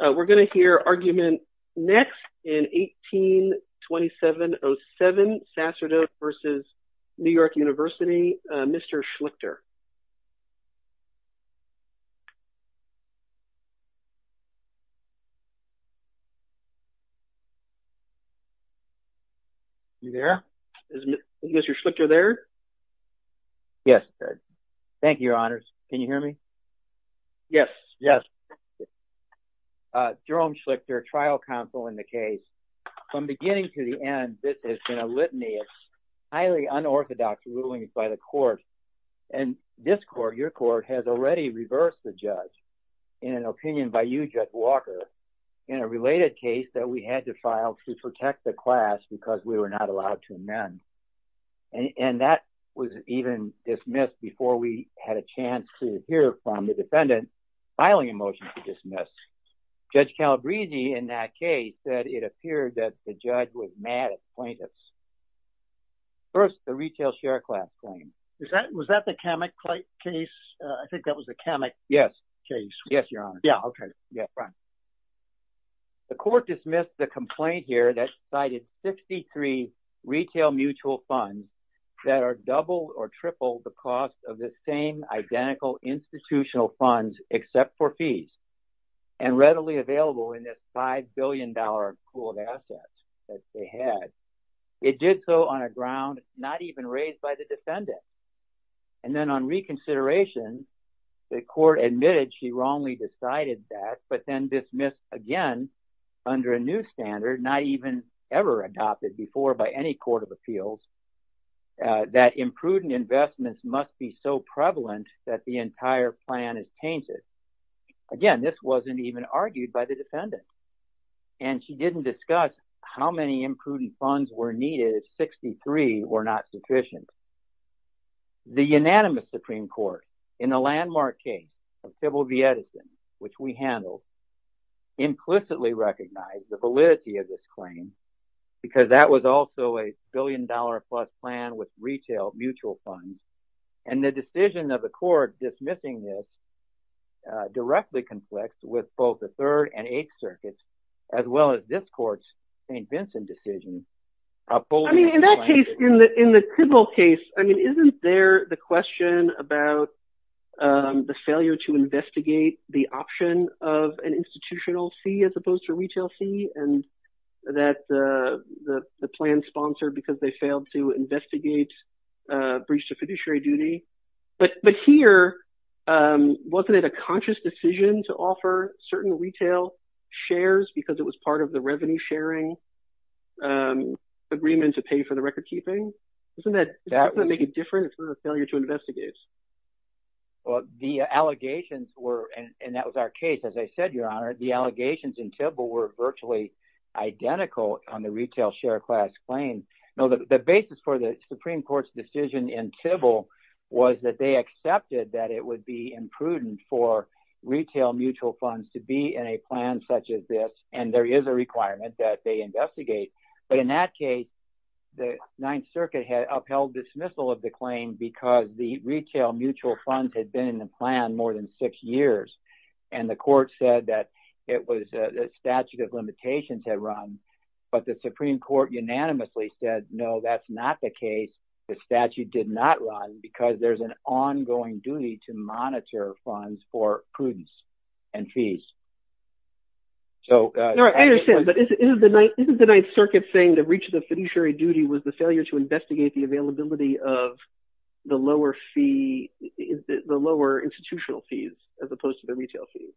We're going to hear argument next in 182707, Sacerdote v. New York University, Mr. Schlichter. You there? Is Mr. Schlichter there? Yes. Thank you, your honors. Can you hear me? Yes. Yes. Jerome Schlichter, trial counsel in the case. From beginning to the end, this has been a litany of highly unorthodox rulings by the court. And this court, your court, has already reversed the judge in an opinion by you, Judge Walker, in a related case that we had to file to protect the class because we were not allowed to amend. And that was even dismissed before we had a chance to hear from the defendant filing a motion to dismiss. Judge Calabresi in that case said it First, the retail share class claim. Was that the Kamek case? I think that was the Kamek case. Yes. Yes, your honors. Yeah, okay. Yeah, right. The court dismissed the complaint here that cited 63 retail mutual funds that are double or triple the cost of the same identical institutional funds except for fees and readily available in this $5 billion pool of assets that they had. It did so on a ground not even raised by the defendant. And then on reconsideration, the court admitted she wrongly decided that but then dismissed again under a new standard not even ever adopted before by any court of appeals that imprudent investments must be so prevalent that the entire plan is tainted. Again, this wasn't even argued by the defendant. And she didn't discuss how many prudent funds were needed if 63 were not sufficient. The unanimous Supreme Court in the landmark case of Sybil Vieticin, which we handled, implicitly recognized the validity of this claim because that was also a billion-dollar-plus plan with retail mutual funds. And the decision of the court dismissing this directly conflicts with both the Third and Eighth Circuits as well as this St. Vincent decision. I mean, in that case, in the Cribble case, I mean, isn't there the question about the failure to investigate the option of an institutional fee as opposed to a retail fee and that the plan sponsored because they failed to investigate breach to fiduciary duty? But here, wasn't it a conscious decision to offer certain retail shares because it was part of the revenue sharing agreement to pay for the recordkeeping? Doesn't that make it different? It's not a failure to investigate. Well, the allegations were, and that was our case, as I said, Your Honor, the allegations in Sybil were virtually identical on the retail share class claims. No, the basis for the Supreme Court's decision in Sybil was that they accepted that it would be imprudent for that they investigate. But in that case, the Ninth Circuit had upheld dismissal of the claim because the retail mutual funds had been in the plan more than six years. And the court said that it was a statute of limitations had run, but the Supreme Court unanimously said, no, that's not the case. The statute did not run because there's an ongoing duty to monitor funds for prudence and fees. I understand, but isn't the Ninth Circuit saying the breach of the fiduciary duty was the failure to investigate the availability of the lower fee, the lower institutional fees as opposed to the retail fees?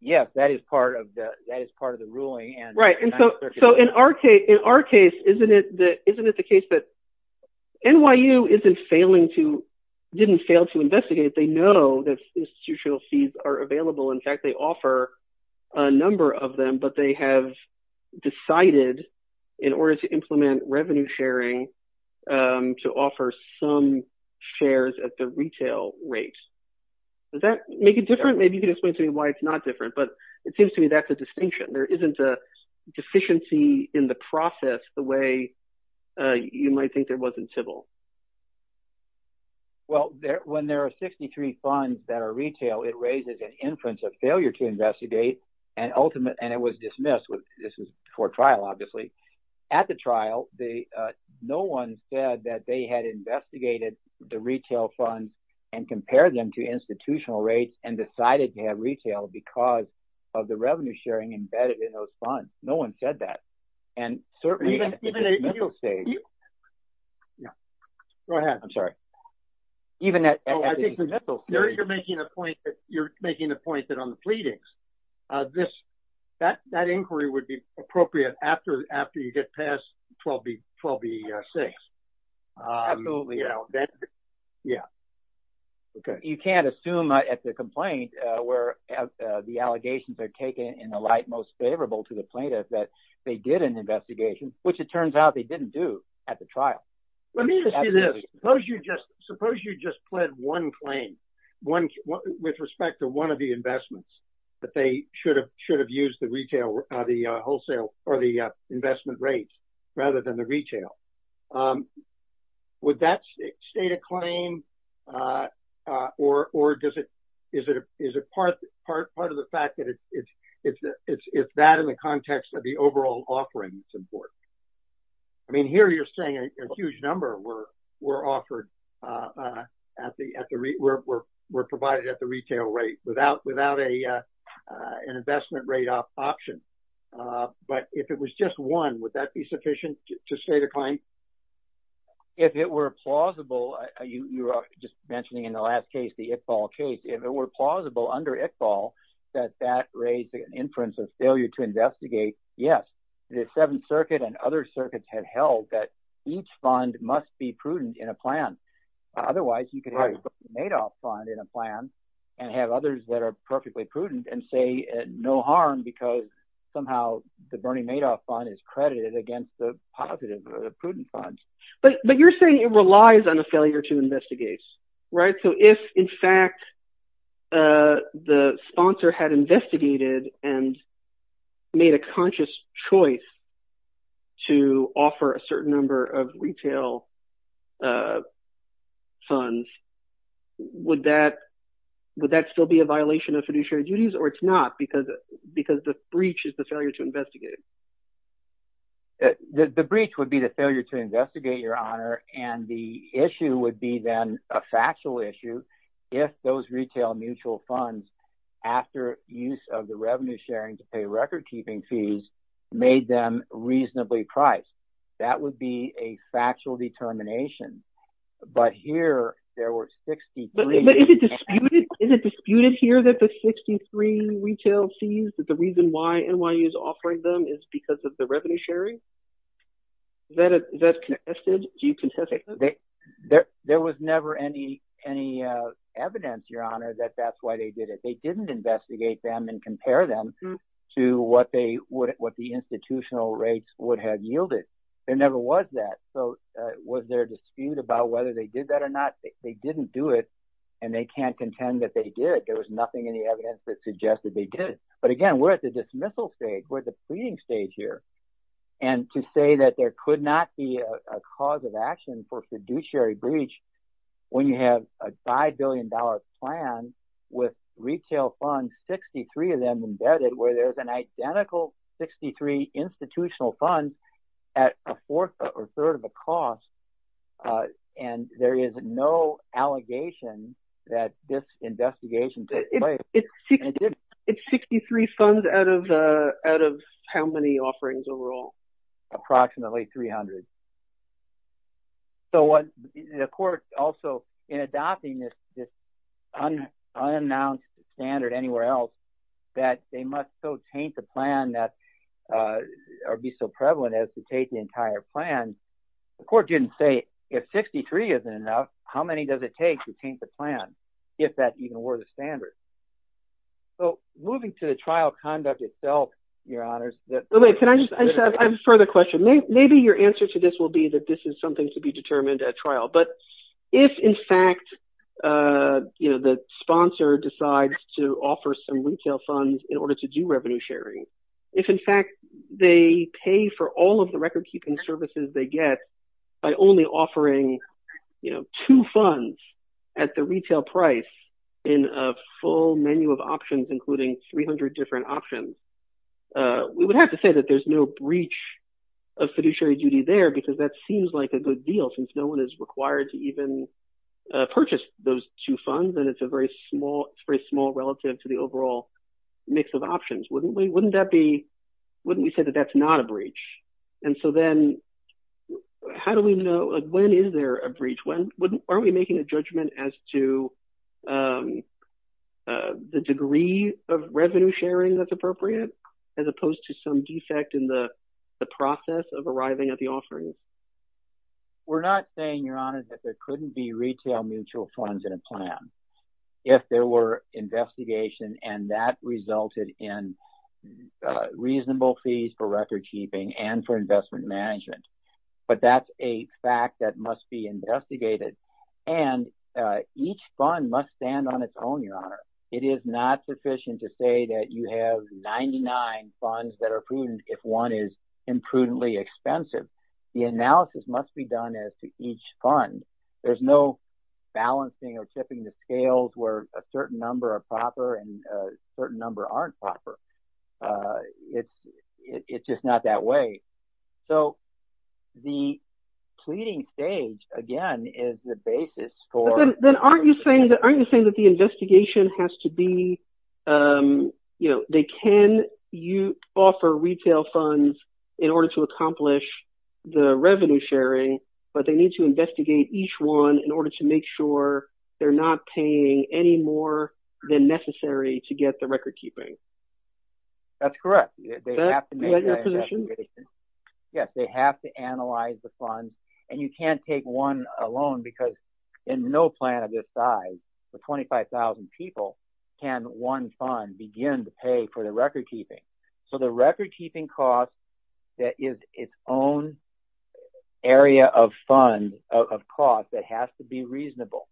Yeah, that is part of the ruling. Right, and so in our case, isn't it the offer a number of them, but they have decided in order to implement revenue sharing to offer some shares at the retail rate. Does that make it different? Maybe you can explain to me why it's not different, but it seems to me that's a distinction. There isn't a deficiency in the process the way you might think there was in Sybil. Well, when there are 63 funds that are retail, it raises an inference of failure to investigate and it was dismissed. This was before trial, obviously. At the trial, no one said that they had investigated the retail fund and compared them to institutional rates and decided to have retail because of the revenue sharing embedded in those and certainly... Go ahead. I'm sorry. You're making the point that on the pleadings, that inquiry would be appropriate after you get past 12B6. Absolutely. Yeah. You can't assume at the complaint where the allegations are taken in the light most they did an investigation, which it turns out they didn't do at the trial. Let me just do this. Suppose you just pled one claim with respect to one of the investments that they should have used the wholesale or the investment rate rather than the retail. Would that state a claim or is it part of the fact that if that in the context of the overall offering is important? I mean, here you're saying a huge number were provided at the retail rate without an investment rate option, but if it was just one, would that be sufficient to state a claim? If it were plausible, you were just mentioning in the last case, the Iqbal case, if it were plausible under Iqbal that that raised an inference of failure to investigate, yes, the Seventh Circuit and other circuits had held that each fund must be prudent in a plan. Otherwise, you could have a Bernie Madoff fund in a plan and have others that are perfectly prudent and say no harm because somehow the Bernie Madoff fund is credited against the positive, prudent funds. But you're saying it relies on a failure to investigate, right? So if in fact the sponsor had investigated and made a conscious choice to offer a certain number of retail funds, would that still be a violation of fiduciary duties or it's not because the to investigate? The breach would be the failure to investigate, Your Honor, and the issue would be then a factual issue if those retail mutual funds, after use of the revenue sharing to pay record-keeping fees, made them reasonably priced. That would be a factual determination. But here there were 63... But is it disputed here that the 63 retail fees, that the reason why NYU is offering them is because of the revenue sharing? There was never any evidence, Your Honor, that that's why they did it. They didn't investigate them and compare them to what the institutional rates would have yielded. There never was that. So was there a dispute about whether they did that or not? They didn't do it and they can't contend that they did. There was nothing in the evidence that suggested they did. But again, we're at the dismissal stage. We're at the pleading stage here. And to say that there could not be a cause of action for fiduciary breach when you have a five billion dollar plan with retail funds, 63 of them embedded, where there's an identical 63 institutional funds at a fourth or third of a cost and there is no allegation that this is a breach, that's a breach. But there's no evidence that they did it. And so, the court, in adopting this unannounced standard anywhere else, that they must so taint the plan that... Or be so prevalent as to take the entire plan. The court didn't say, if 63 isn't enough, how many does it take to taint the plan, if that even were the standard. So moving to the trial conduct itself, your honors... Can I just... I have a further question. Maybe your answer to this will be that this is something to be determined at trial. But if in fact, the sponsor decides to offer some retail funds in order to do revenue sharing, if in fact, they pay for all of the record keeping services they get by only offering two funds at the retail price in a full menu of options, including 300 different options, we would have to say that there's no breach of fiduciary duty there because that seems like a good deal since no one is required to even purchase those two funds and it's a very small relative to the overall mix of options. Wouldn't we say that that's not a breach? And so then, how do we know... When is there a breach? Are we making a judgment as to the degree of revenue sharing that's appropriate, as opposed to some defect in the process of arriving at the offering? We're not saying, your honors, that there couldn't be retail mutual funds in a plan. If there were investigation and that resulted in reasonable fees for record keeping and for investment management. But that's a fact that must be investigated. And each fund must stand on its own, your honor. It is not sufficient to say that you have 99 funds that are prudent if one is imprudently expensive. The analysis must be done as to each fund. There's no balancing or tipping the scales where a certain number are proper and a certain number aren't proper. It's just not that way. So, the pleading stage, again, is the basis for... But then, aren't you saying that the investigation has to be... They can offer retail funds in order to accomplish the revenue sharing, but they need to investigate each one in order to make sure they're not paying any more than necessary to get the record keeping? That's correct. Yes, they have to analyze the funds. And you can't take one alone because in no plan of this size, for 25,000 people, can one fund begin to pay for the record keeping? So, the record keeping cost that is its own area of fund, of cost, that has to be reasonable.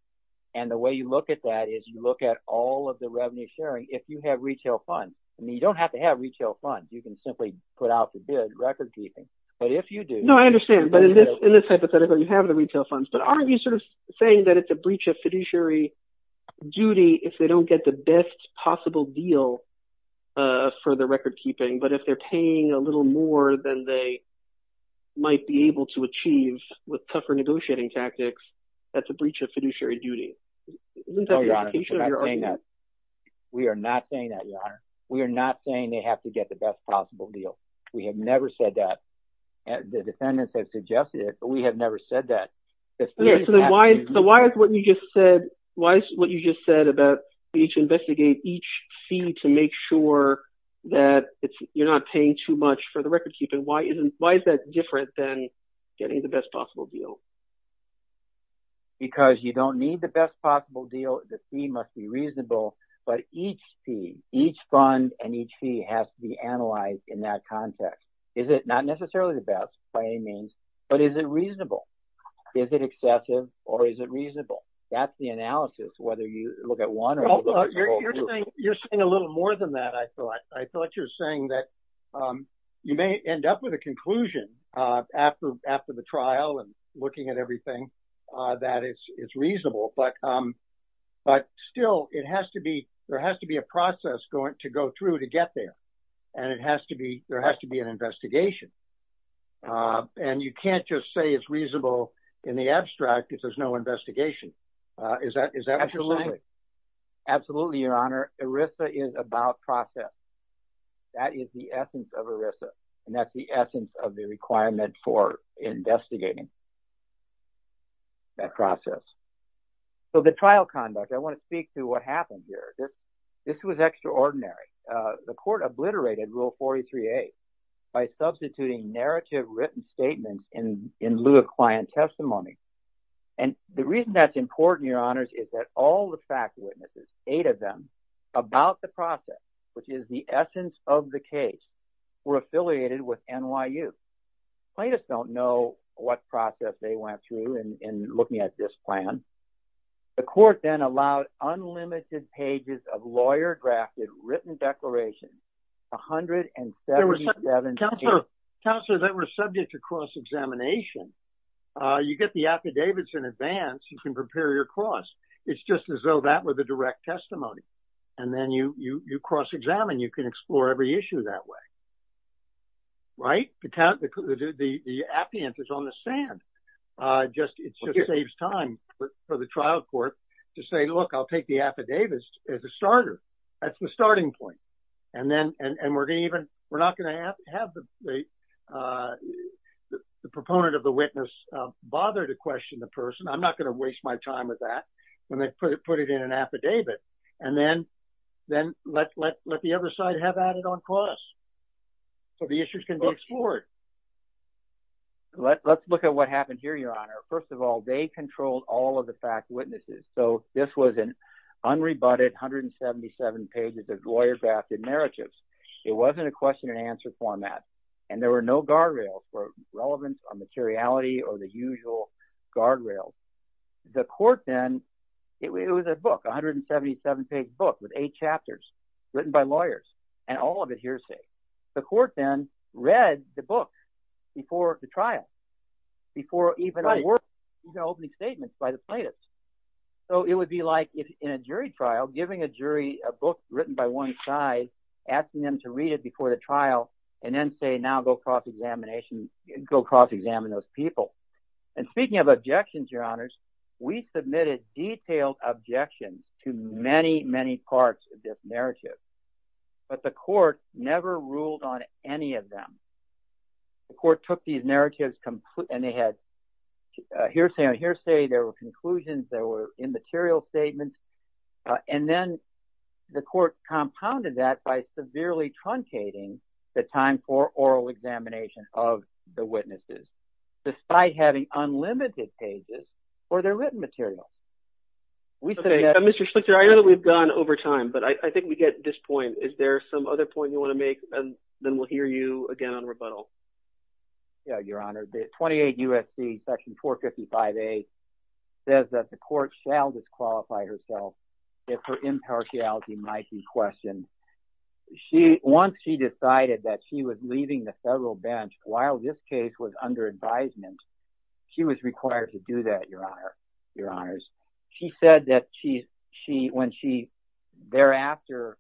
And the way you look at that is you look at all of the revenue sharing. If you have retail funds, I mean, you don't have to have retail funds. You can simply put out the bid record keeping. But if you do... No, I understand. But in this hypothetical, you have the retail funds. But aren't you sort of saying that it's a breach of fiduciary duty if they don't get the best possible deal for the record keeping, but if they're paying a little more than they might be able to achieve with tougher negotiating tactics, that's a breach of fiduciary duty? We are not saying that, Your Honor. We are not saying they have to get the best possible deal. We have never said that. The defendants have suggested it, but we have never said that. So, why is what you just said about each investigate each fee to make sure that you're not paying too much for the record keeping? Why is that different than getting the best possible deal? Because you don't need the best possible deal. The fee must be reasonable. But each fee, each fund and each fee has to be analyzed in that context. Is it not necessarily the best by any means, but is it reasonable? Is it excessive or is it reasonable? That's the analysis, whether you look at one or the other. You're saying a little more than that, I thought. I thought you were saying that you may end up with a conclusion after the trial and looking at everything that it's reasonable. But still, there has to be a process to go through to get there. And there has to be an investigation. And you can't just say it's reasonable in the abstract if there's no investigation. Is that what you're saying? Absolutely, Your Honor. ERISA is about process. That is the essence of ERISA. And that's the essence of the requirement for investigating that process. So, the trial conduct, I want to speak to what happened here. This was extraordinary. The court obliterated Rule 43A by substituting narrative written statements in lieu of client testimony. And the reason that's important, Your Honors, is that all the fact witnesses, eight of them, about the process, which is the essence of the case, were affiliated with NYU. Plaintiffs don't know what process they went through in looking at this plan. The court then allowed unlimited pages of lawyer-drafted written declarations, 177 pages. Counselor, they were subject to cross-examination. You get the affidavits in advance. You can prepare your cross. It's just as though that were the direct testimony. And then you cross-examine. You can explore every issue that way. Right? The appeant is on the sand. It just saves time for the trial court to say, look, I'll take the affidavits as a starter. That's the starting point. And we're going to even, we're not going to have the proponent of the witness bother to question the person. I'm not going to waste my time with that. And then put it in an affidavit. And then let the other side have at it on cross. So, the issues can be explored. Let's look at what happened here, Your Honor. First of all, they controlled all of the fact witnesses. So, this was an unrebutted 177 pages of lawyer-drafted narratives. It wasn't a question and answer format. And there were no guardrails for relevance or materiality or the usual guardrails. The court then, it was a book, 177 page book with eight chapters written by lawyers and all of it hearsay. The court then read the book before the trial, before even opening statements by the plaintiffs. So, it would be like in a jury trial, giving a jury a book written by one side, asking them to read it before the trial and then say, now go cross-examine those people. And speaking of objections, Your Honors, we submitted detailed objections to many, many parts of this narrative. But the court never ruled on any of them. The court took these narratives and they had hearsay on hearsay, there were conclusions, there were immaterial statements, and then the court compounded that by severely truncating the time for oral examination of the witnesses, despite having unlimited pages for their written material. Okay, Mr. Schlichter, I know that we've gone over time, but I think we get this point. Is there some other point you want to make? And then we'll hear you again on rebuttal. Yeah, Your Honor. The 28 U.S.C. Section 455A says that the court shall disqualify herself if her impartiality might be questioned. Once she decided that she was leaving the federal bench while this case was under advisement, she was required to do that, Your Honors. She said that when she thereafter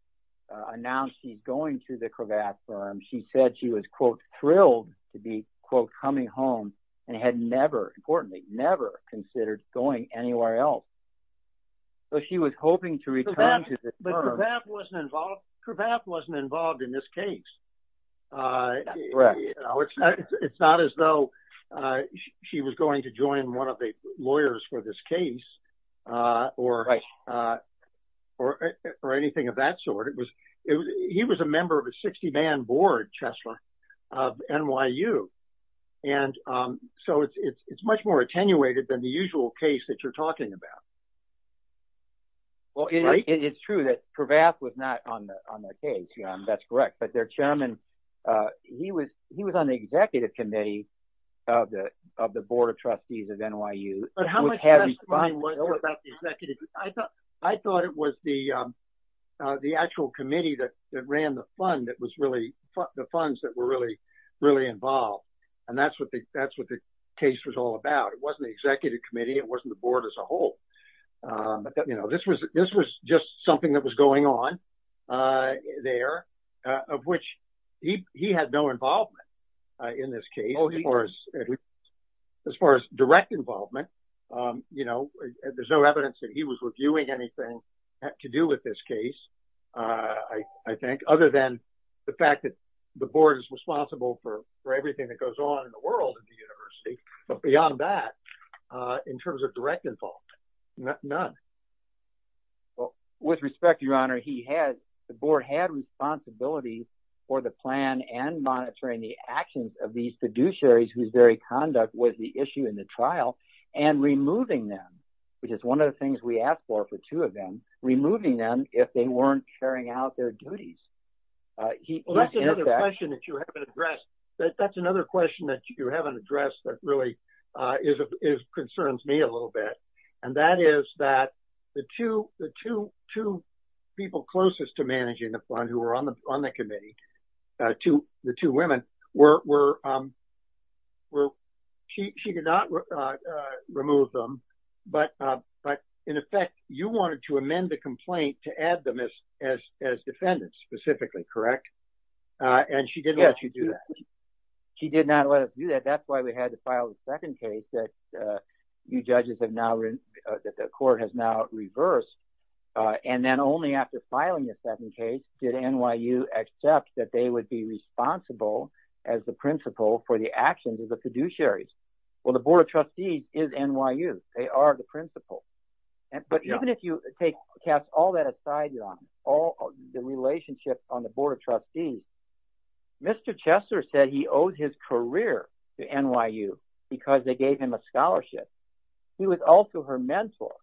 announced she's going to the Cravath firm, she said she was, quote, thrilled to be, quote, coming home and had never, importantly, never considered going anywhere else. So she was hoping to return to the firm. But Cravath wasn't involved in this case. It's not as though she was going to join one of the lawyers for this case. Right. Or anything of that sort. He was a member of a 60-man board, Chesler, of NYU. And so it's much more attenuated than the usual case that you're talking about. Well, it's true that Cravath was not on the case, Your Honor. That's correct. But their chairman, he was on the executive committee of the Board of Trustees of NYU. But how much testimony was there about the executive committee? I thought it was the actual committee that ran the funds that were really involved. And that's what the case was all about. It wasn't the executive committee. It wasn't the board as a whole. This was just something that was going on there, of which he had no involvement in this case, as far as you know. There's no evidence that he was reviewing anything to do with this case, I think, other than the fact that the board is responsible for everything that goes on in the world of the university. But beyond that, in terms of direct involvement, none. Well, with respect, Your Honor, the board had responsibilities for the plan and monitoring the actions of these fiduciaries whose conduct was the issue in the trial and removing them, which is one of the things we asked for, for two of them, removing them if they weren't carrying out their duties. Well, that's another question that you haven't addressed. That's another question that you haven't addressed that really concerns me a little bit. And that is that the two people closest to managing the fund who were on the committee, the two women, she did not remove them. But in effect, you wanted to amend the complaint to add them as defendants specifically, correct? And she didn't let you do that. She did not let us do that. That's why we had to do that. But even if you cast all that aside, Your Honor, all the relationships on the board of trustees, Mr. Chester said he owes his career to NYU because they gave him a scholarship. He was also her mentor.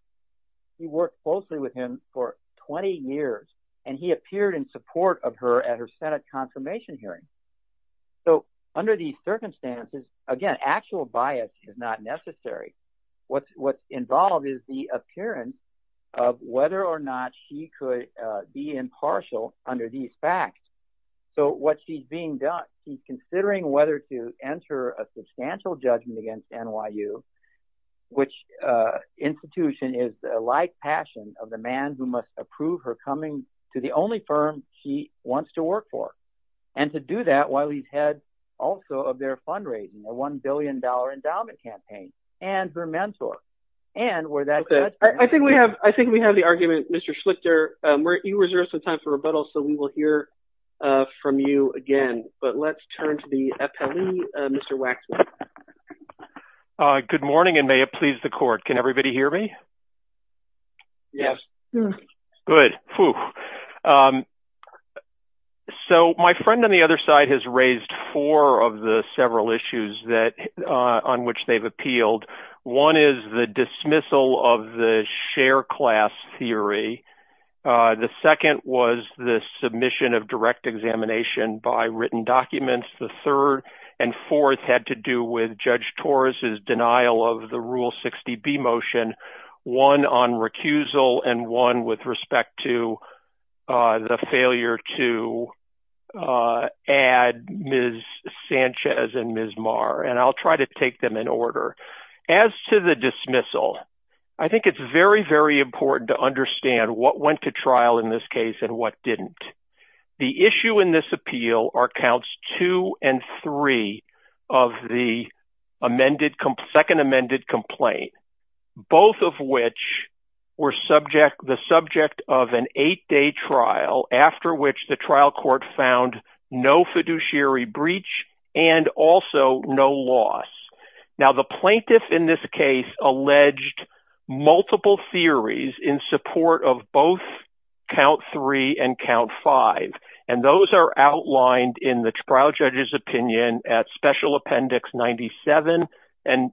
He worked closely with him for 20 years and he appeared in support of her at her Senate confirmation hearing. So under these circumstances, again, actual bias is not necessary. What's involved is the appearance of whether or not she could be impartial under these facts. So what she's being done, she's considering whether to enter a substantial judgment against NYU, which institution is like passion of the man who must approve her coming to the only firm she wants to work for. And to do that while he's head also of their fundraising, a $1 billion endowment campaign and her mentor. And where that... I think we have the argument, Mr. Schlichter, you reserve some time for rebuttal. So we will hear from you again. But let's turn to the appellee, Mr. Waxman. Good morning and may it please the court. Can everybody hear me? Yes. Good. So my friend on the other side has raised four of the several issues that on which they've appealed. One is the dismissal of the share class theory. The second was the fourth had to do with Judge Torres's denial of the Rule 60B motion, one on recusal and one with respect to the failure to add Ms. Sanchez and Ms. Marr. And I'll try to take them in order. As to the dismissal, I think it's very, very important to understand what went to trial in this case and what didn't. The issue in this appeal are counts two and three of the amended, second amended complaint, both of which were subject, the subject of an eight-day trial after which the trial court found no fiduciary breach and also no loss. Now the plaintiff in this case alleged multiple theories in support of both count three and count five, and those are outlined in the trial judge's opinion at Special Appendix 97 and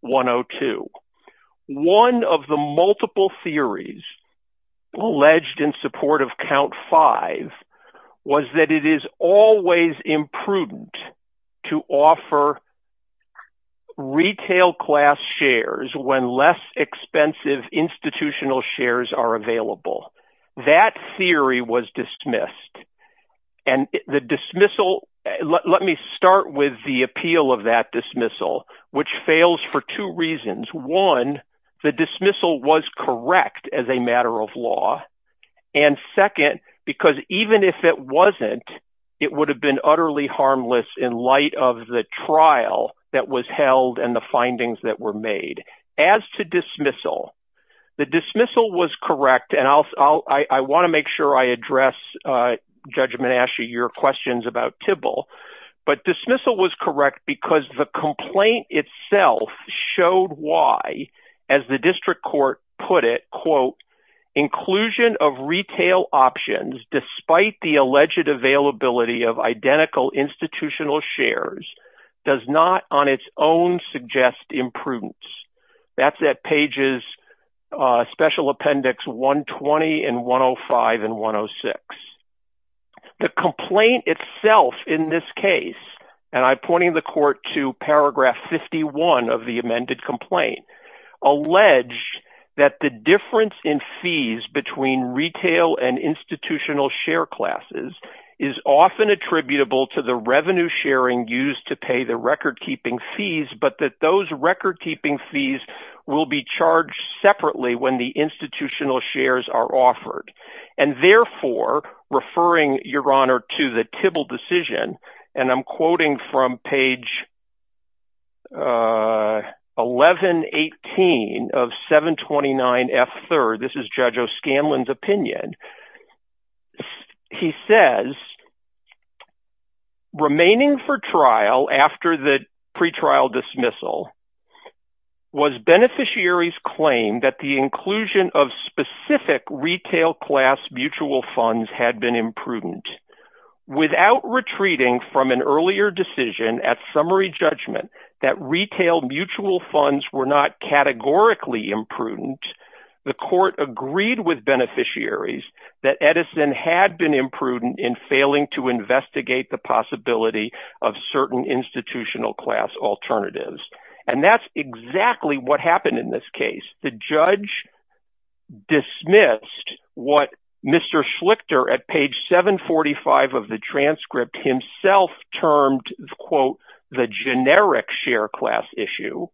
102. One of the multiple theories alleged in support of count five was that it is always imprudent to offer retail class shares when less expensive institutional shares are available. That theory was dismissed. And the dismissal, let me start with the appeal of that dismissal, which fails for two reasons. One, the dismissal was correct as a matter of law. And second, because even if it wasn't, it would have been utterly harmless in light of the trial that was held and the findings that were made. As to dismissal, the dismissal was correct. And I'll, I want to make sure I address Judge Manasci, your questions about Tybil. But dismissal was correct because the complaint itself showed why, as the district court put it, quote, inclusion of retail options despite the alleged availability of identical institutional shares does not on its own suggest imprudence. That's at pages Special Appendix 120 and 105 and 106. The complaint itself in this case, and I'm pointing the court to paragraph 51 of the amended complaint, allege that the difference in fees between retail and institutional share classes is often attributable to the revenue sharing used to pay the record keeping fees, but that those record keeping fees will be charged separately when the institutional shares are offered. And therefore, referring, Your Honor, to the Tybil decision, and I'm quoting from page 1118 of 729F3rd. This is Judge O'Scanlan's opinion. He says, remaining for trial after the pretrial dismissal was beneficiaries claim that the inclusion of retail class mutual funds had been imprudent. Without retreating from an earlier decision at summary judgment that retail mutual funds were not categorically imprudent, the court agreed with beneficiaries that Edison had been imprudent in failing to investigate the possibility of certain institutional class alternatives. And that's exactly what happened in this case. The judge dismissed what Mr. Schlichter at page 745 of the transcript himself termed, quote, the generic share class issue,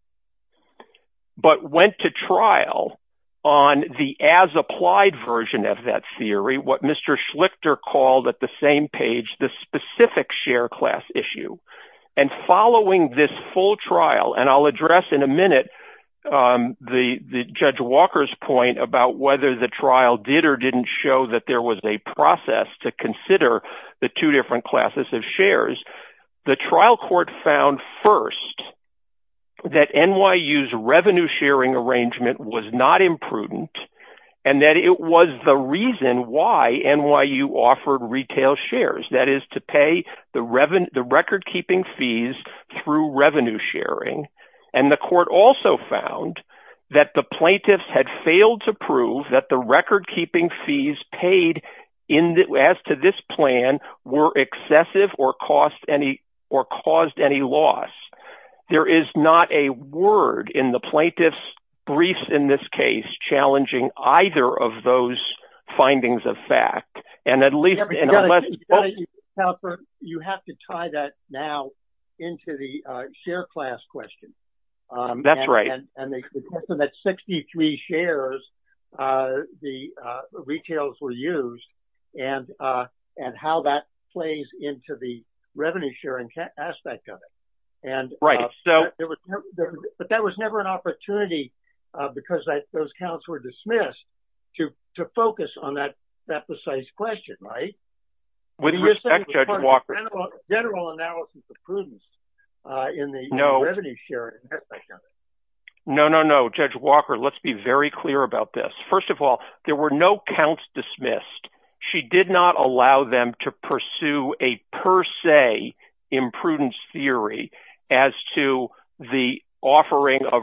but went to trial on the as applied version of that theory, what Mr. Schlichter called at the same page, the specific share class issue. And following this full trial, and I'll address in a minute, the Judge Walker's point about whether the trial did or didn't show that there was a process to consider the two different classes of shares. The trial court found first, that NYU's revenue sharing arrangement was not imprudent, and that it was the reason why NYU offered retail shares, that is to pay the revenue, record-keeping fees through revenue sharing. And the court also found that the plaintiffs had failed to prove that the record-keeping fees paid as to this plan were excessive or caused any loss. There is not a word in the plaintiff's brief in this case challenging either of those findings of the trial. You have to tie that now into the share class question. That's right. And the question that 63 shares, the retails were used, and how that plays into the revenue sharing aspect of it. But that was never an opportunity, because those counts were dismissed, to focus on that precise question, right? With respect, Judge Walker- General analysis of prudence in the revenue sharing aspect of it. No, no, no, Judge Walker, let's be very clear about this. First of all, there were no counts dismissed. She did not allow them to pursue a per se imprudence theory as to the offering of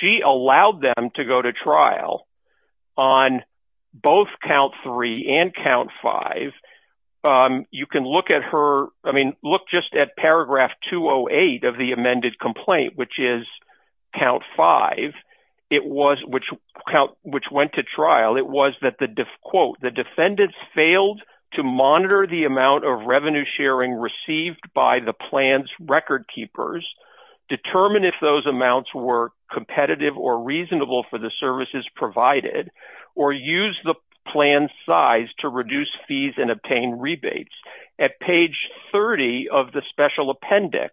She allowed them to go to trial on both count three and count five. You can look at her, I mean, look just at paragraph 208 of the amended complaint, which is count five, which went to trial. It was that the quote, the defendants failed to monitor the amount of revenue sharing received by the plans record keepers, determine if those amounts were competitive or reasonable for the services provided, or use the plan size to reduce fees and obtain rebates. At page 30 of the special appendix,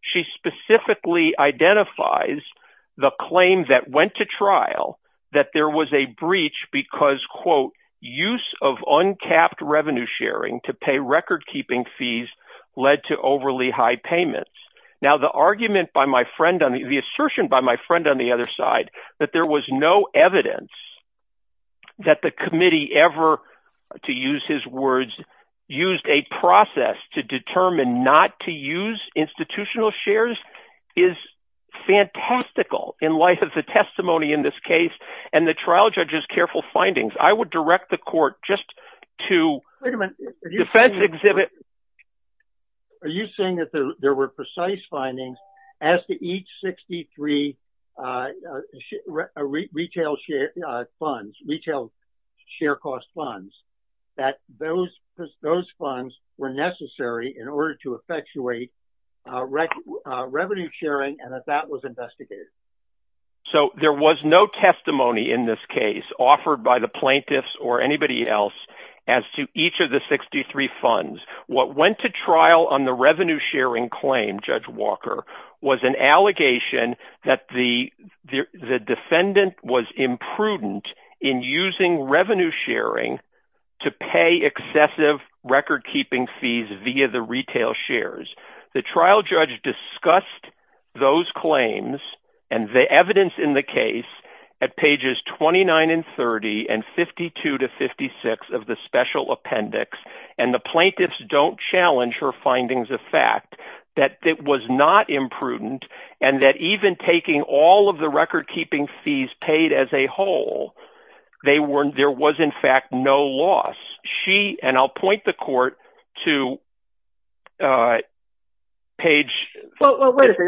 she specifically identifies the claim that went to trial, that there was a breach because quote, use of untapped revenue sharing to pay record keeping fees led to overly high payments. Now, the argument by my friend, the assertion by my friend on the other side, that there was no evidence that the committee ever, to use his words, used a process to determine not to use institutional shares is fantastical in light of the testimony in this case and the trial judge's careful findings. I would direct the court just to defense exhibit. Are you saying that there were precise findings as to each 63 retail share funds, retail share cost funds, that those funds were necessary in order to effectuate revenue sharing and that that was investigated? So there was no testimony in this case offered by the plaintiffs or anybody else as to each of the 63 funds. What went to trial on the revenue sharing claim, Judge Walker, was an allegation that the defendant was imprudent in using revenue sharing to pay excessive record keeping fees via the retail shares. The trial judge discussed those claims and the evidence in the case at pages 29 and 30 and 52 to 56 of the special appendix, and the plaintiffs don't challenge her findings of fact that it was not imprudent and that even taking all of the record keeping fees paid as a whole, there was in fact no loss. She, I'll point the court to page – Well, you're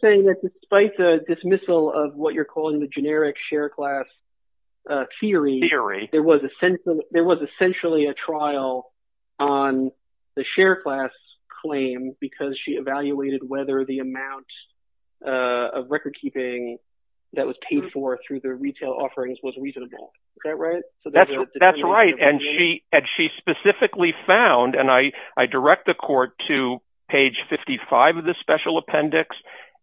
saying that despite the dismissal of what you're calling the generic share class theory, there was essentially a trial on the share class claim because she evaluated whether the amount of record keeping that was paid for through the she specifically found, and I direct the court to page 55 of the special appendix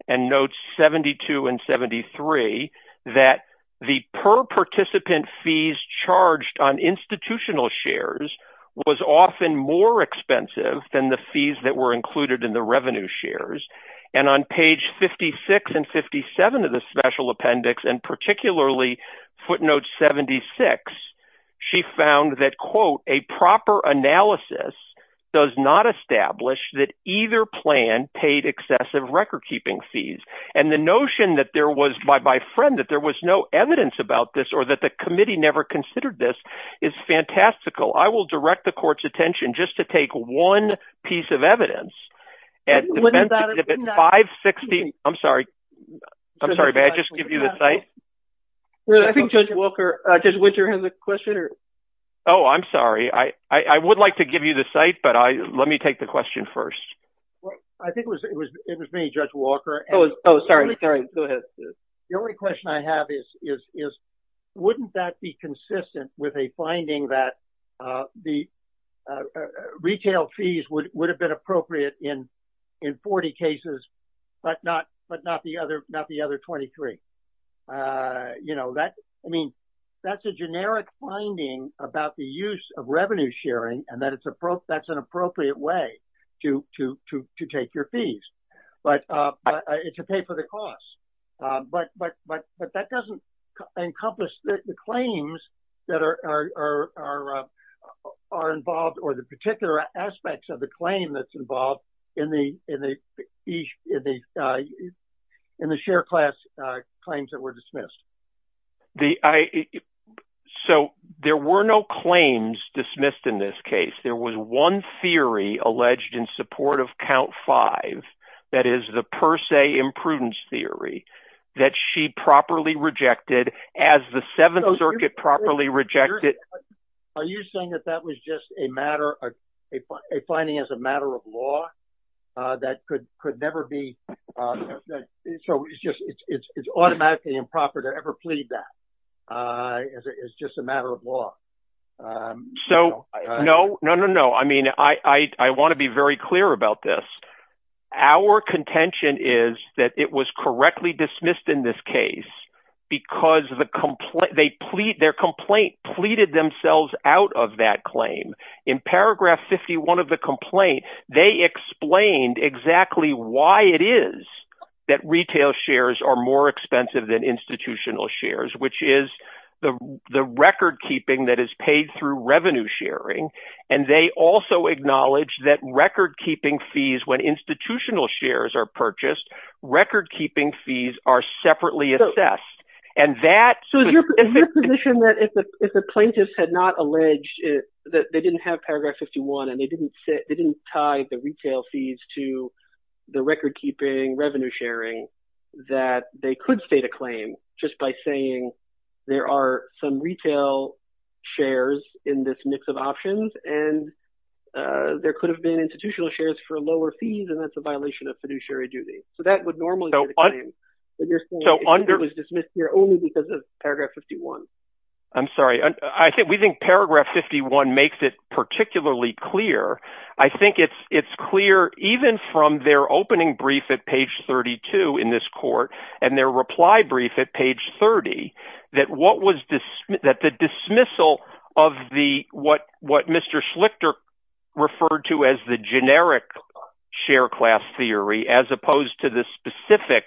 and notes 72 and 73, that the per participant fees charged on institutional shares was often more expensive than the fees that were included in the revenue shares. And on page 56 and 57 of the special appendix, and particularly footnote 76, she found that, quote, a proper analysis does not establish that either plan paid excessive record keeping fees. And the notion that there was, by my friend, that there was no evidence about this or that the committee never considered this is fantastical. I will direct the court's attention just to take one piece of evidence. When is that? At 560 – I'm sorry, may I just give you the site? I think Judge Walker – does Winter have the question? Oh, I'm sorry. I would like to give you the site, but let me take the question first. I think it was me, Judge Walker. Oh, sorry, go ahead. The only question I have is, wouldn't that be consistent with a finding that the retail fees would have been appropriate in 40 cases, but not the other 23? I mean, that's a generic finding about the use of revenue sharing, and that's an appropriate way to take your fees, to pay for the costs. But that doesn't encompass the claims that are involved, or the particular aspects of the claim that's involved in the share class claims that were dismissed. So there were no claims dismissed in this case. There was one theory alleged in support of count five, that is the per se imprudence theory, that she properly rejected as the Seventh Circuit properly rejected. Are you saying that that was just a finding as a matter of law that could never be – so it's automatically improper to ever plead that is just a matter of law? So, no, no, no, no. I mean, I want to be very clear about this. Our contention is that it was correctly dismissed in this case because their complaint pleaded themselves out of that claim. In paragraph 51 of the complaint, they explained exactly why it is that retail shares are more expensive than institutional shares, which is the record keeping that is paid through revenue sharing. And they also acknowledge that record keeping fees, when institutional shares are purchased, record keeping fees are separately assessed. So is your position that if the plaintiffs had not alleged that they didn't have paragraph 51, and they didn't tie the retail fees to the record keeping revenue sharing, that they could state a claim just by saying there are some retail shares in this mix of options, and there could have been institutional shares for lower fees, and that's a violation of fiduciary duty. So that would normally be the claim. But you're saying it was dismissed here only because of paragraph 51. I'm sorry. I think we think paragraph 51 makes it particularly clear. I think it's clear, even from their opening brief at page 32 in this court, and their reply brief at page 30, that the dismissal of what Mr. Schlichter referred to as the generic share class theory, as opposed to the specific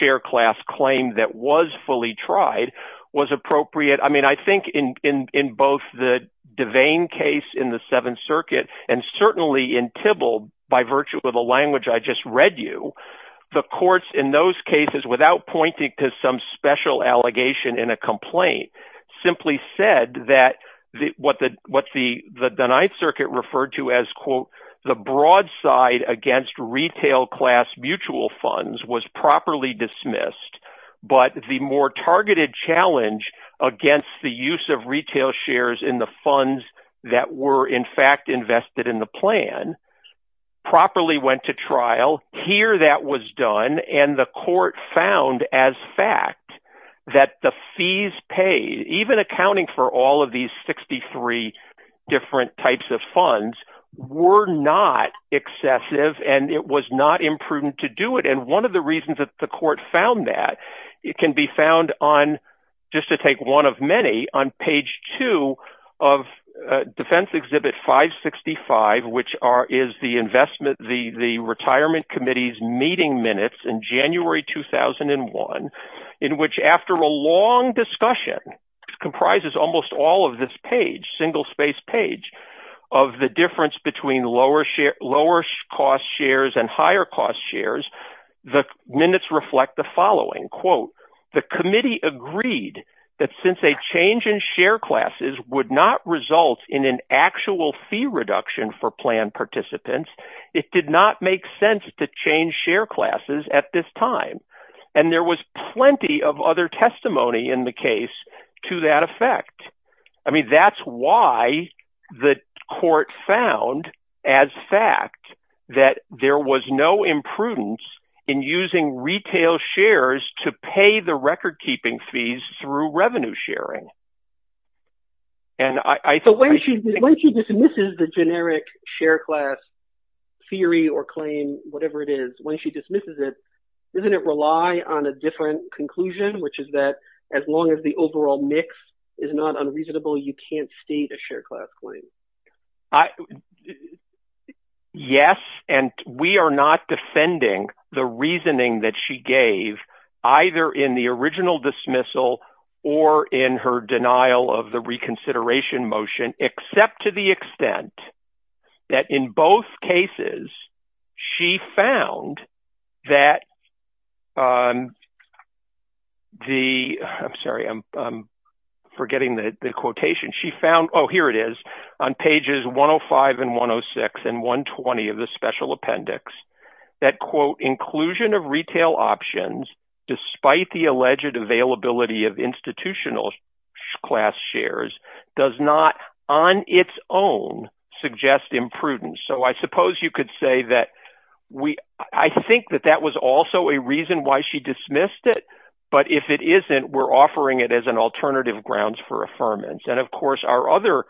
share class claim that was fully tried, was appropriate. I mean, I think in both the Devane case in the Seventh Circuit, and certainly in Tybalt, by virtue of the language I just read you, the courts in those cases, without pointing to some special allegation in a complaint, simply said that what the Ninth Circuit referred to as, quote, the broadside against retail class mutual funds was properly dismissed, but the more targeted challenge against the use of retail shares in the funds that were in fact invested in the plan properly went to trial. Here that was done, and the court found as fact that the fees paid, even accounting for all of these 63 different types of funds, were not excessive, and it was not imprudent to do it. And one of the reasons that the court found that, it can be found on, just to take one of many, on page two of Defense Exhibit 565, which is the retirement committee's meeting minutes in January 2001, in which after a long discussion, comprises almost all of this page, single space page, of the difference between lower share, lower cost shares and higher cost shares, the minutes reflect the following, quote, the committee agreed that since a change in share classes would not result in an actual fee reduction for plan participants, it did not make sense to change share classes at this time. And there was plenty of other testimony in the case to that effect. I mean, that's why the court found, as fact, that there was no imprudence in using retail shares to pay the record-keeping fees through revenue sharing. And I- This is the generic share class theory or claim, whatever it is, when she dismisses it, doesn't it rely on a different conclusion, which is that as long as the overall mix is not unreasonable, you can't state a share class claim. Yes, and we are not defending the reasoning that she gave, either in the original dismissal or in her denial of the reconsideration motion, except to the extent that in both cases, she found that the- I'm sorry, I'm forgetting the quotation. She found, oh here it is, on pages 105 and 106 and 120 of the special appendix, that quote, inclusion of retail options despite the alleged availability of institutional class shares does not on its own suggest imprudence. So I suppose you could say that we- I think that that was also a reason why she dismissed it, but if it isn't, we're offering it as an alternative grounds for affirmance. And of course, our other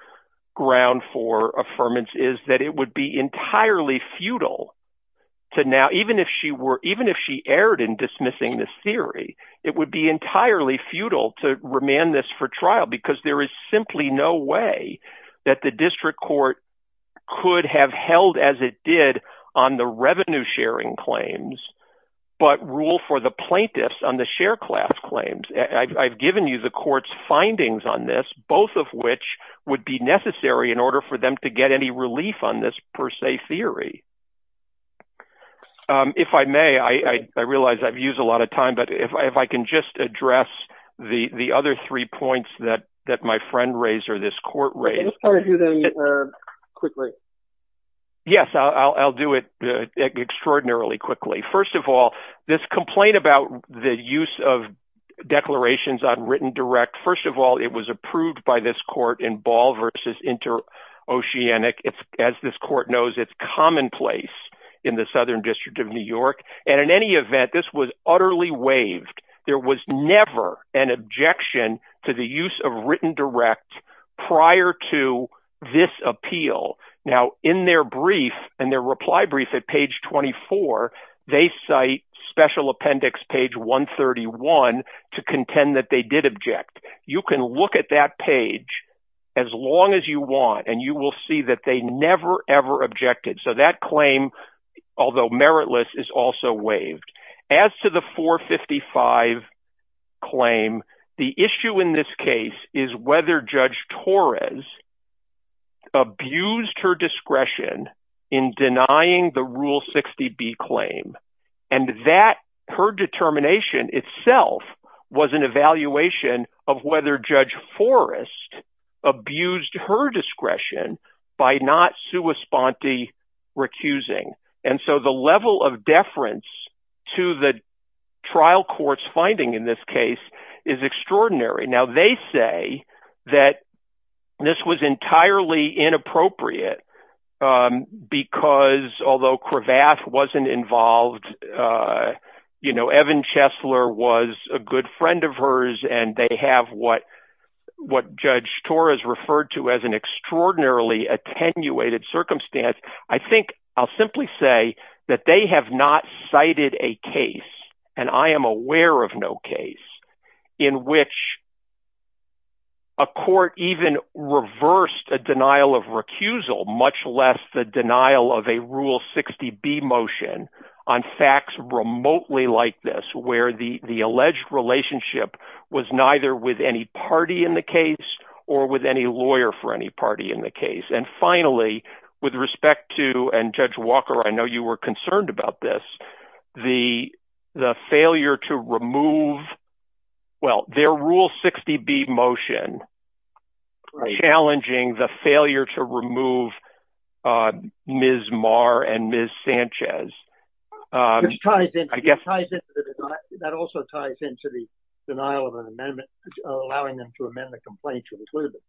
ground for affirmance is that it would be entirely futile to now, even if she were- even if she erred in dismissing this theory, it would be entirely futile to remand this for trial, because there is simply no way that the district court could have held as it did on the revenue sharing claims, but rule for the plaintiffs on the share class claims. I've given you the court's findings on this, both of which would be necessary in order for them to get any relief on this per If I may, I realize I've used a lot of time, but if I can just address the other three points that my friend raised or this court raised. Let's try to do them quickly. Yes, I'll do it extraordinarily quickly. First of all, this complaint about the use of declarations on written direct, first of all, it was approved by this court in ball versus inter-oceanic. It's, this court knows, it's commonplace in the Southern District of New York. And in any event, this was utterly waived. There was never an objection to the use of written direct prior to this appeal. Now in their brief and their reply brief at page 24, they cite special appendix, page 131, to contend that they did object. You can look at that page as long as you want, and you will see that they never ever objected. So that claim, although meritless, is also waived. As to the 455 claim, the issue in this case is whether Judge Torres abused her discretion in denying the Rule 60B claim. And that, her determination itself, was an evaluation of whether Judge Forrest abused her discretion by not sua sponte recusing. And so the level of deference to the trial court's finding in this case is extraordinary. Now they say that this was entirely inappropriate because, although Cravath wasn't involved, you know, Evan Chesler was a good friend of hers, and they have what Judge Torres referred to as an extraordinarily attenuated circumstance. I think I'll simply say that they have not cited a case, and I am aware of no case, in which a court even reversed a denial of recusal, much less the denial of a Rule 60B motion, on facts remotely like this, where the alleged relationship was neither with any party in the case, or with any lawyer for any party in the case. And finally, with respect to, and Judge Walker, I know you were concerned about this, the failure to remove, well, their Rule 60B motion challenging the failure to remove Ms. Marr and Ms. Sanchez. Which ties into, that also ties into the denial of an amendment, allowing them to amend the complaint to include it.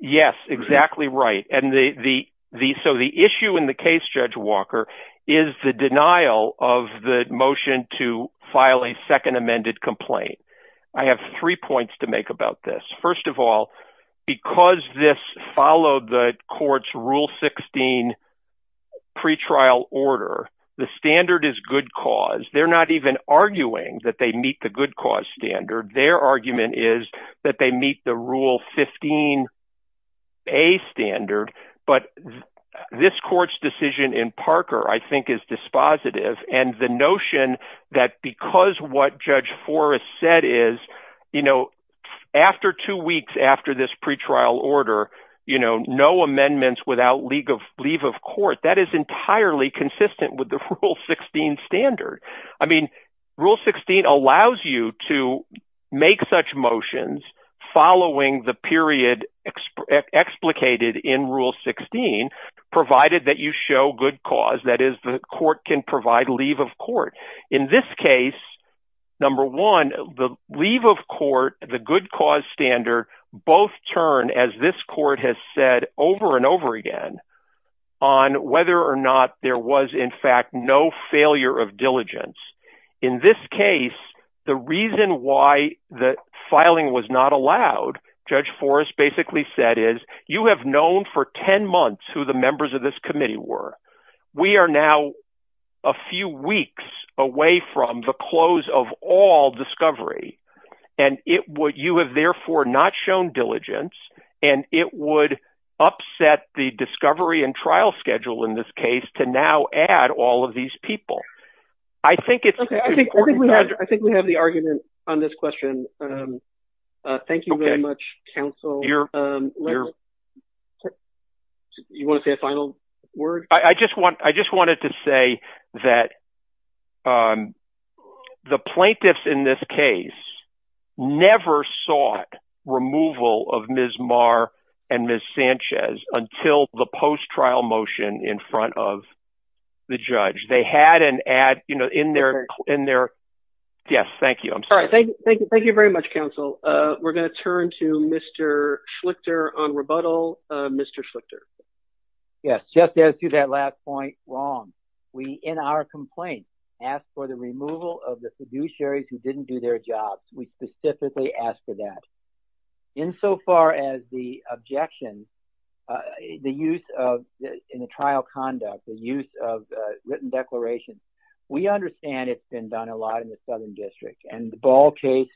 Yes, exactly right. And so the issue in the motion to file a second amended complaint, I have three points to make about this. First of all, because this followed the court's Rule 16 pretrial order, the standard is good cause. They're not even arguing that they meet the good cause standard. Their argument is that they meet Rule 15A standard. But this court's decision in Parker, I think is dispositive. And the notion that because what Judge Forrest said is, you know, after two weeks after this pretrial order, you know, no amendments without leave of court, that is entirely consistent with the Rule 16 standard. I mean, Rule 16 allows you to make such motions following the period explicated in Rule 16, provided that you show good cause, that is the court can provide leave of court. In this case, number one, the leave of court, the good cause standard, both turn, as this court has said over and over again, on whether or not there was, in fact, no failure of diligence. In this case, the reason why the filing was not allowed, Judge Forrest basically said is, you have known for 10 months who the members of this committee were. We are now a few weeks away from the close of all discovery, and you have therefore not shown diligence, and it would upset the discovery and trial schedule, in this case, to now add all of these people. I think it's... Okay, I think we have the argument on this question. Thank you very much, counsel. You want to say a final word? I just wanted to say that the plaintiffs in this case never sought removal of Ms. Marr and Ms. Sanchez until the post-trial motion in front of the judge. They had an ad in their... Yes, thank you. I'm sorry. Thank you very much, counsel. We're going to turn to Mr. Schlichter on rebuttal. Mr. Schlichter. Yes, just as to that last point, wrong. We, in our complaint, asked for the removal of the fiduciaries who didn't do their jobs. We specifically asked for that. Insofar as the objections, the use of... In the trial conduct, the use of written declarations, we understand it's been done a lot in the Southern District. And the Ball case,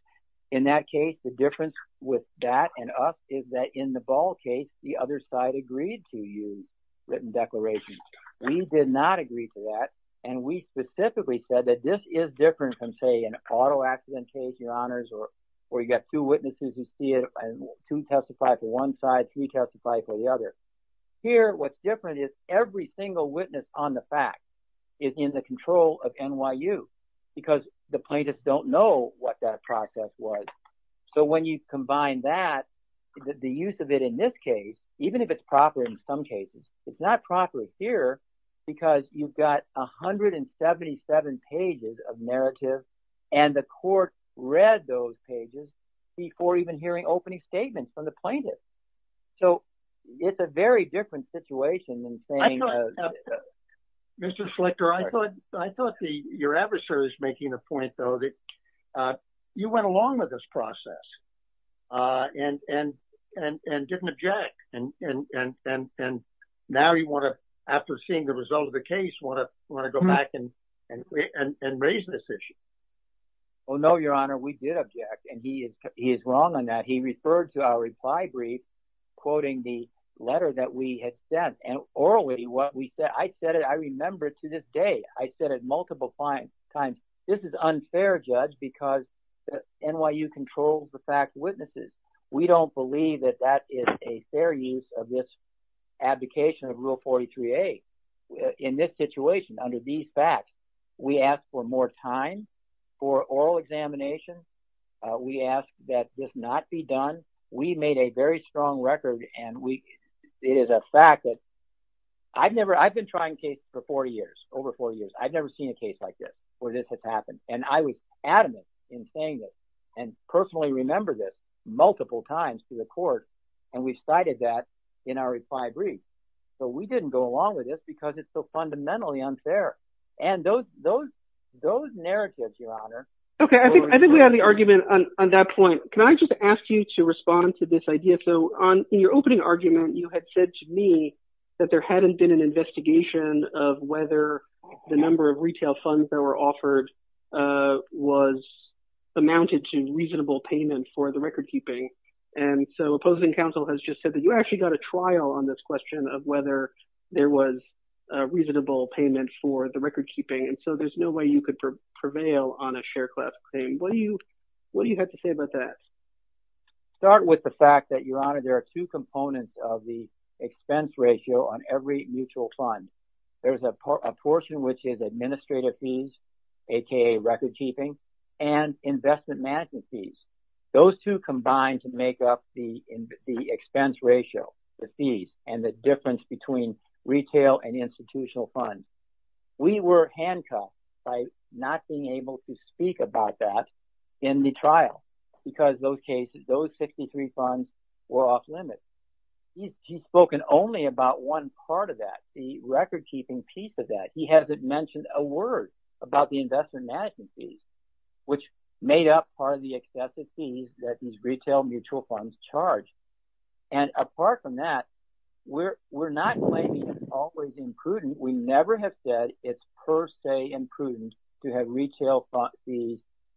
in that case, the difference with that and us is that in the Ball case, the other side agreed to use written declarations. We did not agree to that. And we specifically said that this is different from, say, an auto accident case, your honors, or you got two witnesses who see it and two testify for one side, three testify for the other. Here, what's different is every single witness on the fact is in the control of NYU because the plaintiffs don't know what that process was. So when you combine that, the use of it in this case, even if it's proper in some cases, it's not proper here because you've got 177 pages of narrative and the court read those pages before even hearing opening statements from the plaintiffs. So it's a very different situation. Mr. Schlichter, I thought your adversary was making a point, though, that you went along with this process and didn't object. And now you want to, after seeing the result of the case, want to go back and raise this issue. Well, no, your honor, we did object, and he is wrong on that. He referred to our reply brief quoting the letter that we had sent and orally what we said. I said it, I remember it to this day. I said it multiple times. This is unfair, judge, because NYU controls the fact witnesses. We don't believe that that is a fair use of this abdication of Rule 43A in this situation under these facts. We ask for more time for oral examination. We ask that this not be done. We made a very strong record, and it is a fact that I've never, I've been trying cases for 40 years, over 40 years. I've never seen a case like this where this has happened. And I was adamant in saying this and personally remember this multiple times to the court. And we cited that in our reply brief. So we didn't go along with this because it's so fundamentally unfair. And those narratives, your honor. Okay, I think we have the argument on that point. Can I just ask you to respond to this idea? So in your opening argument, you had said to me that there the number of retail funds that were offered was amounted to reasonable payment for the record keeping. And so opposing counsel has just said that you actually got a trial on this question of whether there was a reasonable payment for the record keeping. And so there's no way you could prevail on a share class claim. What do you have to say about that? Start with the fact that your two components of the expense ratio on every mutual fund. There's a portion which is administrative fees, aka record keeping and investment management fees. Those two combined to make up the expense ratio, the fees and the difference between retail and institutional funds. We were handcuffed by not being able to speak about that in the trial because those cases, we're off limits. He's spoken only about one part of that, the record keeping piece of that. He hasn't mentioned a word about the investment management fees, which made up part of the excessive fees that these retail mutual funds charge. And apart from that, we're not always imprudent. We never have said it's per se imprudent to have retail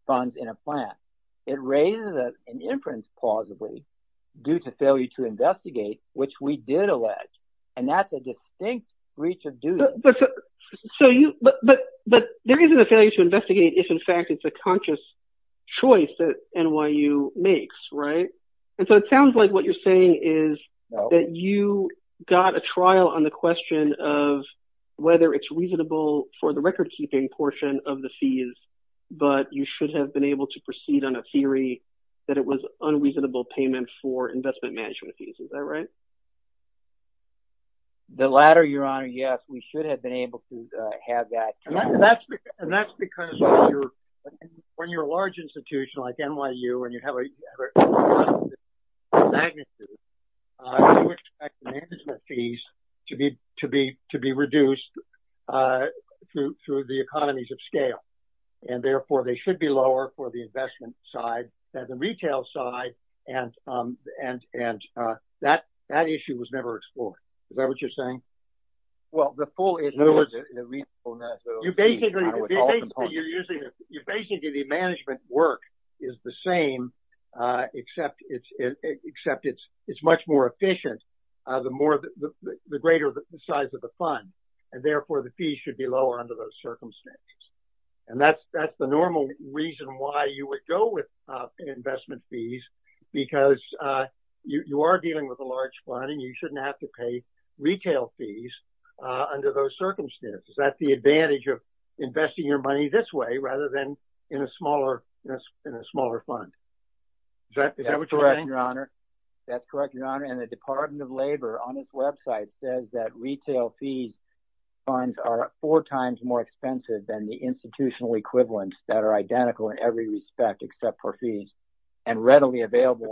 funds in a plan. It raises an inference plausibly due to failure to investigate, which we did allege. And that's a distinct breach of duty. But there isn't a failure to investigate if in fact it's a conscious choice that NYU makes, right? And so it sounds like what you're saying is that you got a trial on the question of whether it's reasonable for the record keeping portion of the fees, but you should have been able to proceed on a theory that it was unreasonable payment for investment management fees. Is that right? The latter, your honor, yes. We should have been able to have that. And that's because when you're a large institution like NYU and you have a large magnitude, you expect management fees to be reduced through the economies of scale. And therefore, they should be lower for the investment side than the retail side. And that issue was never explored. Is that what you're saying? Well, the full is. Basically, the management work is the same, except it's much more efficient, the greater the size of the fund. And therefore, the fees should be lower under those circumstances. And that's the normal reason why you would go with investment fees, because you are dealing with a large fund and you shouldn't have to pay retail fees under those circumstances. That's the advantage of investing your money this way rather than in a smaller fund. Is that what you're saying? That's correct, your honor. And the Department of Labor on its website says that retail fees funds are four times more expensive than the institutional equivalents that are identical in every respect except for fees and readily available.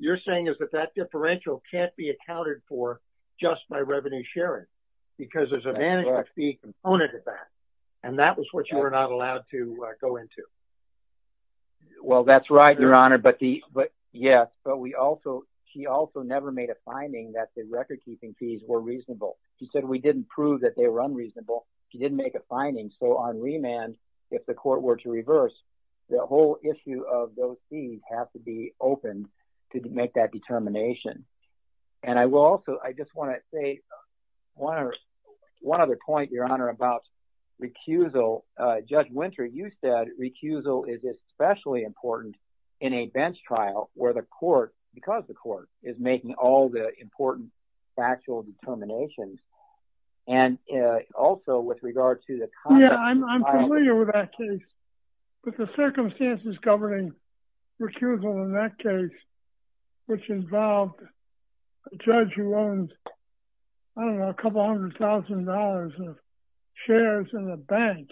You're saying is that that differential can't be accounted for just by revenue sharing because there's a management fee component to that. And that was what you were not allowed to go into. Well, that's right, your honor. But yes, but we also he also never made a finding that the recordkeeping fees were reasonable. He said we didn't prove that they were unreasonable. He didn't make a finding. So on remand, if the court were to reverse, the whole issue of those fees have to be opened to make that determination. And I will also I just want to say one or one other point, your honor, about recusal. Judge Winter, you said recusal is especially important in a bench trial where because the court is making all the important factual determinations. And also with regard to the. Yeah, I'm familiar with that case, but the circumstances governing recusal in that case, which involved a judge who owned, I don't know, a couple hundred thousand dollars of shares in the bank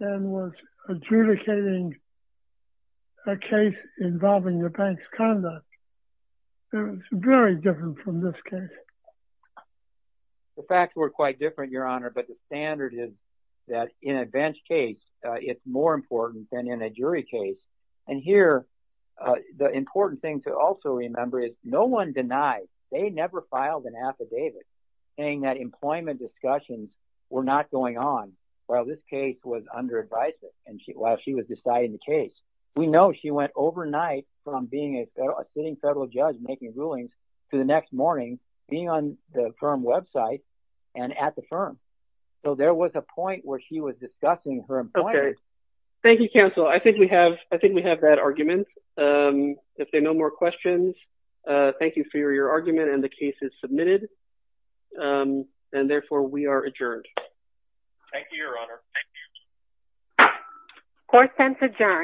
and was adjudicating a case involving the bank's conduct. It was very different from this case. The facts were quite different, your honor. But the standard is that in a bench case, it's more important than in a jury case. And here, the important thing to also remember is no one denies they never filed an affidavit saying that employment discussions were not going on while this case was under advisement and while she was deciding the case. We know she went overnight from being a sitting federal judge making rulings to the next morning being on the firm website and at the firm. So there was a point where she was discussing her. Thank you, counsel. I think we have I think we have that argument. If there are no more questions, thank you for your argument. And the case is submitted and therefore we are adjourned. Thank you, your honor. Course sense adjourned.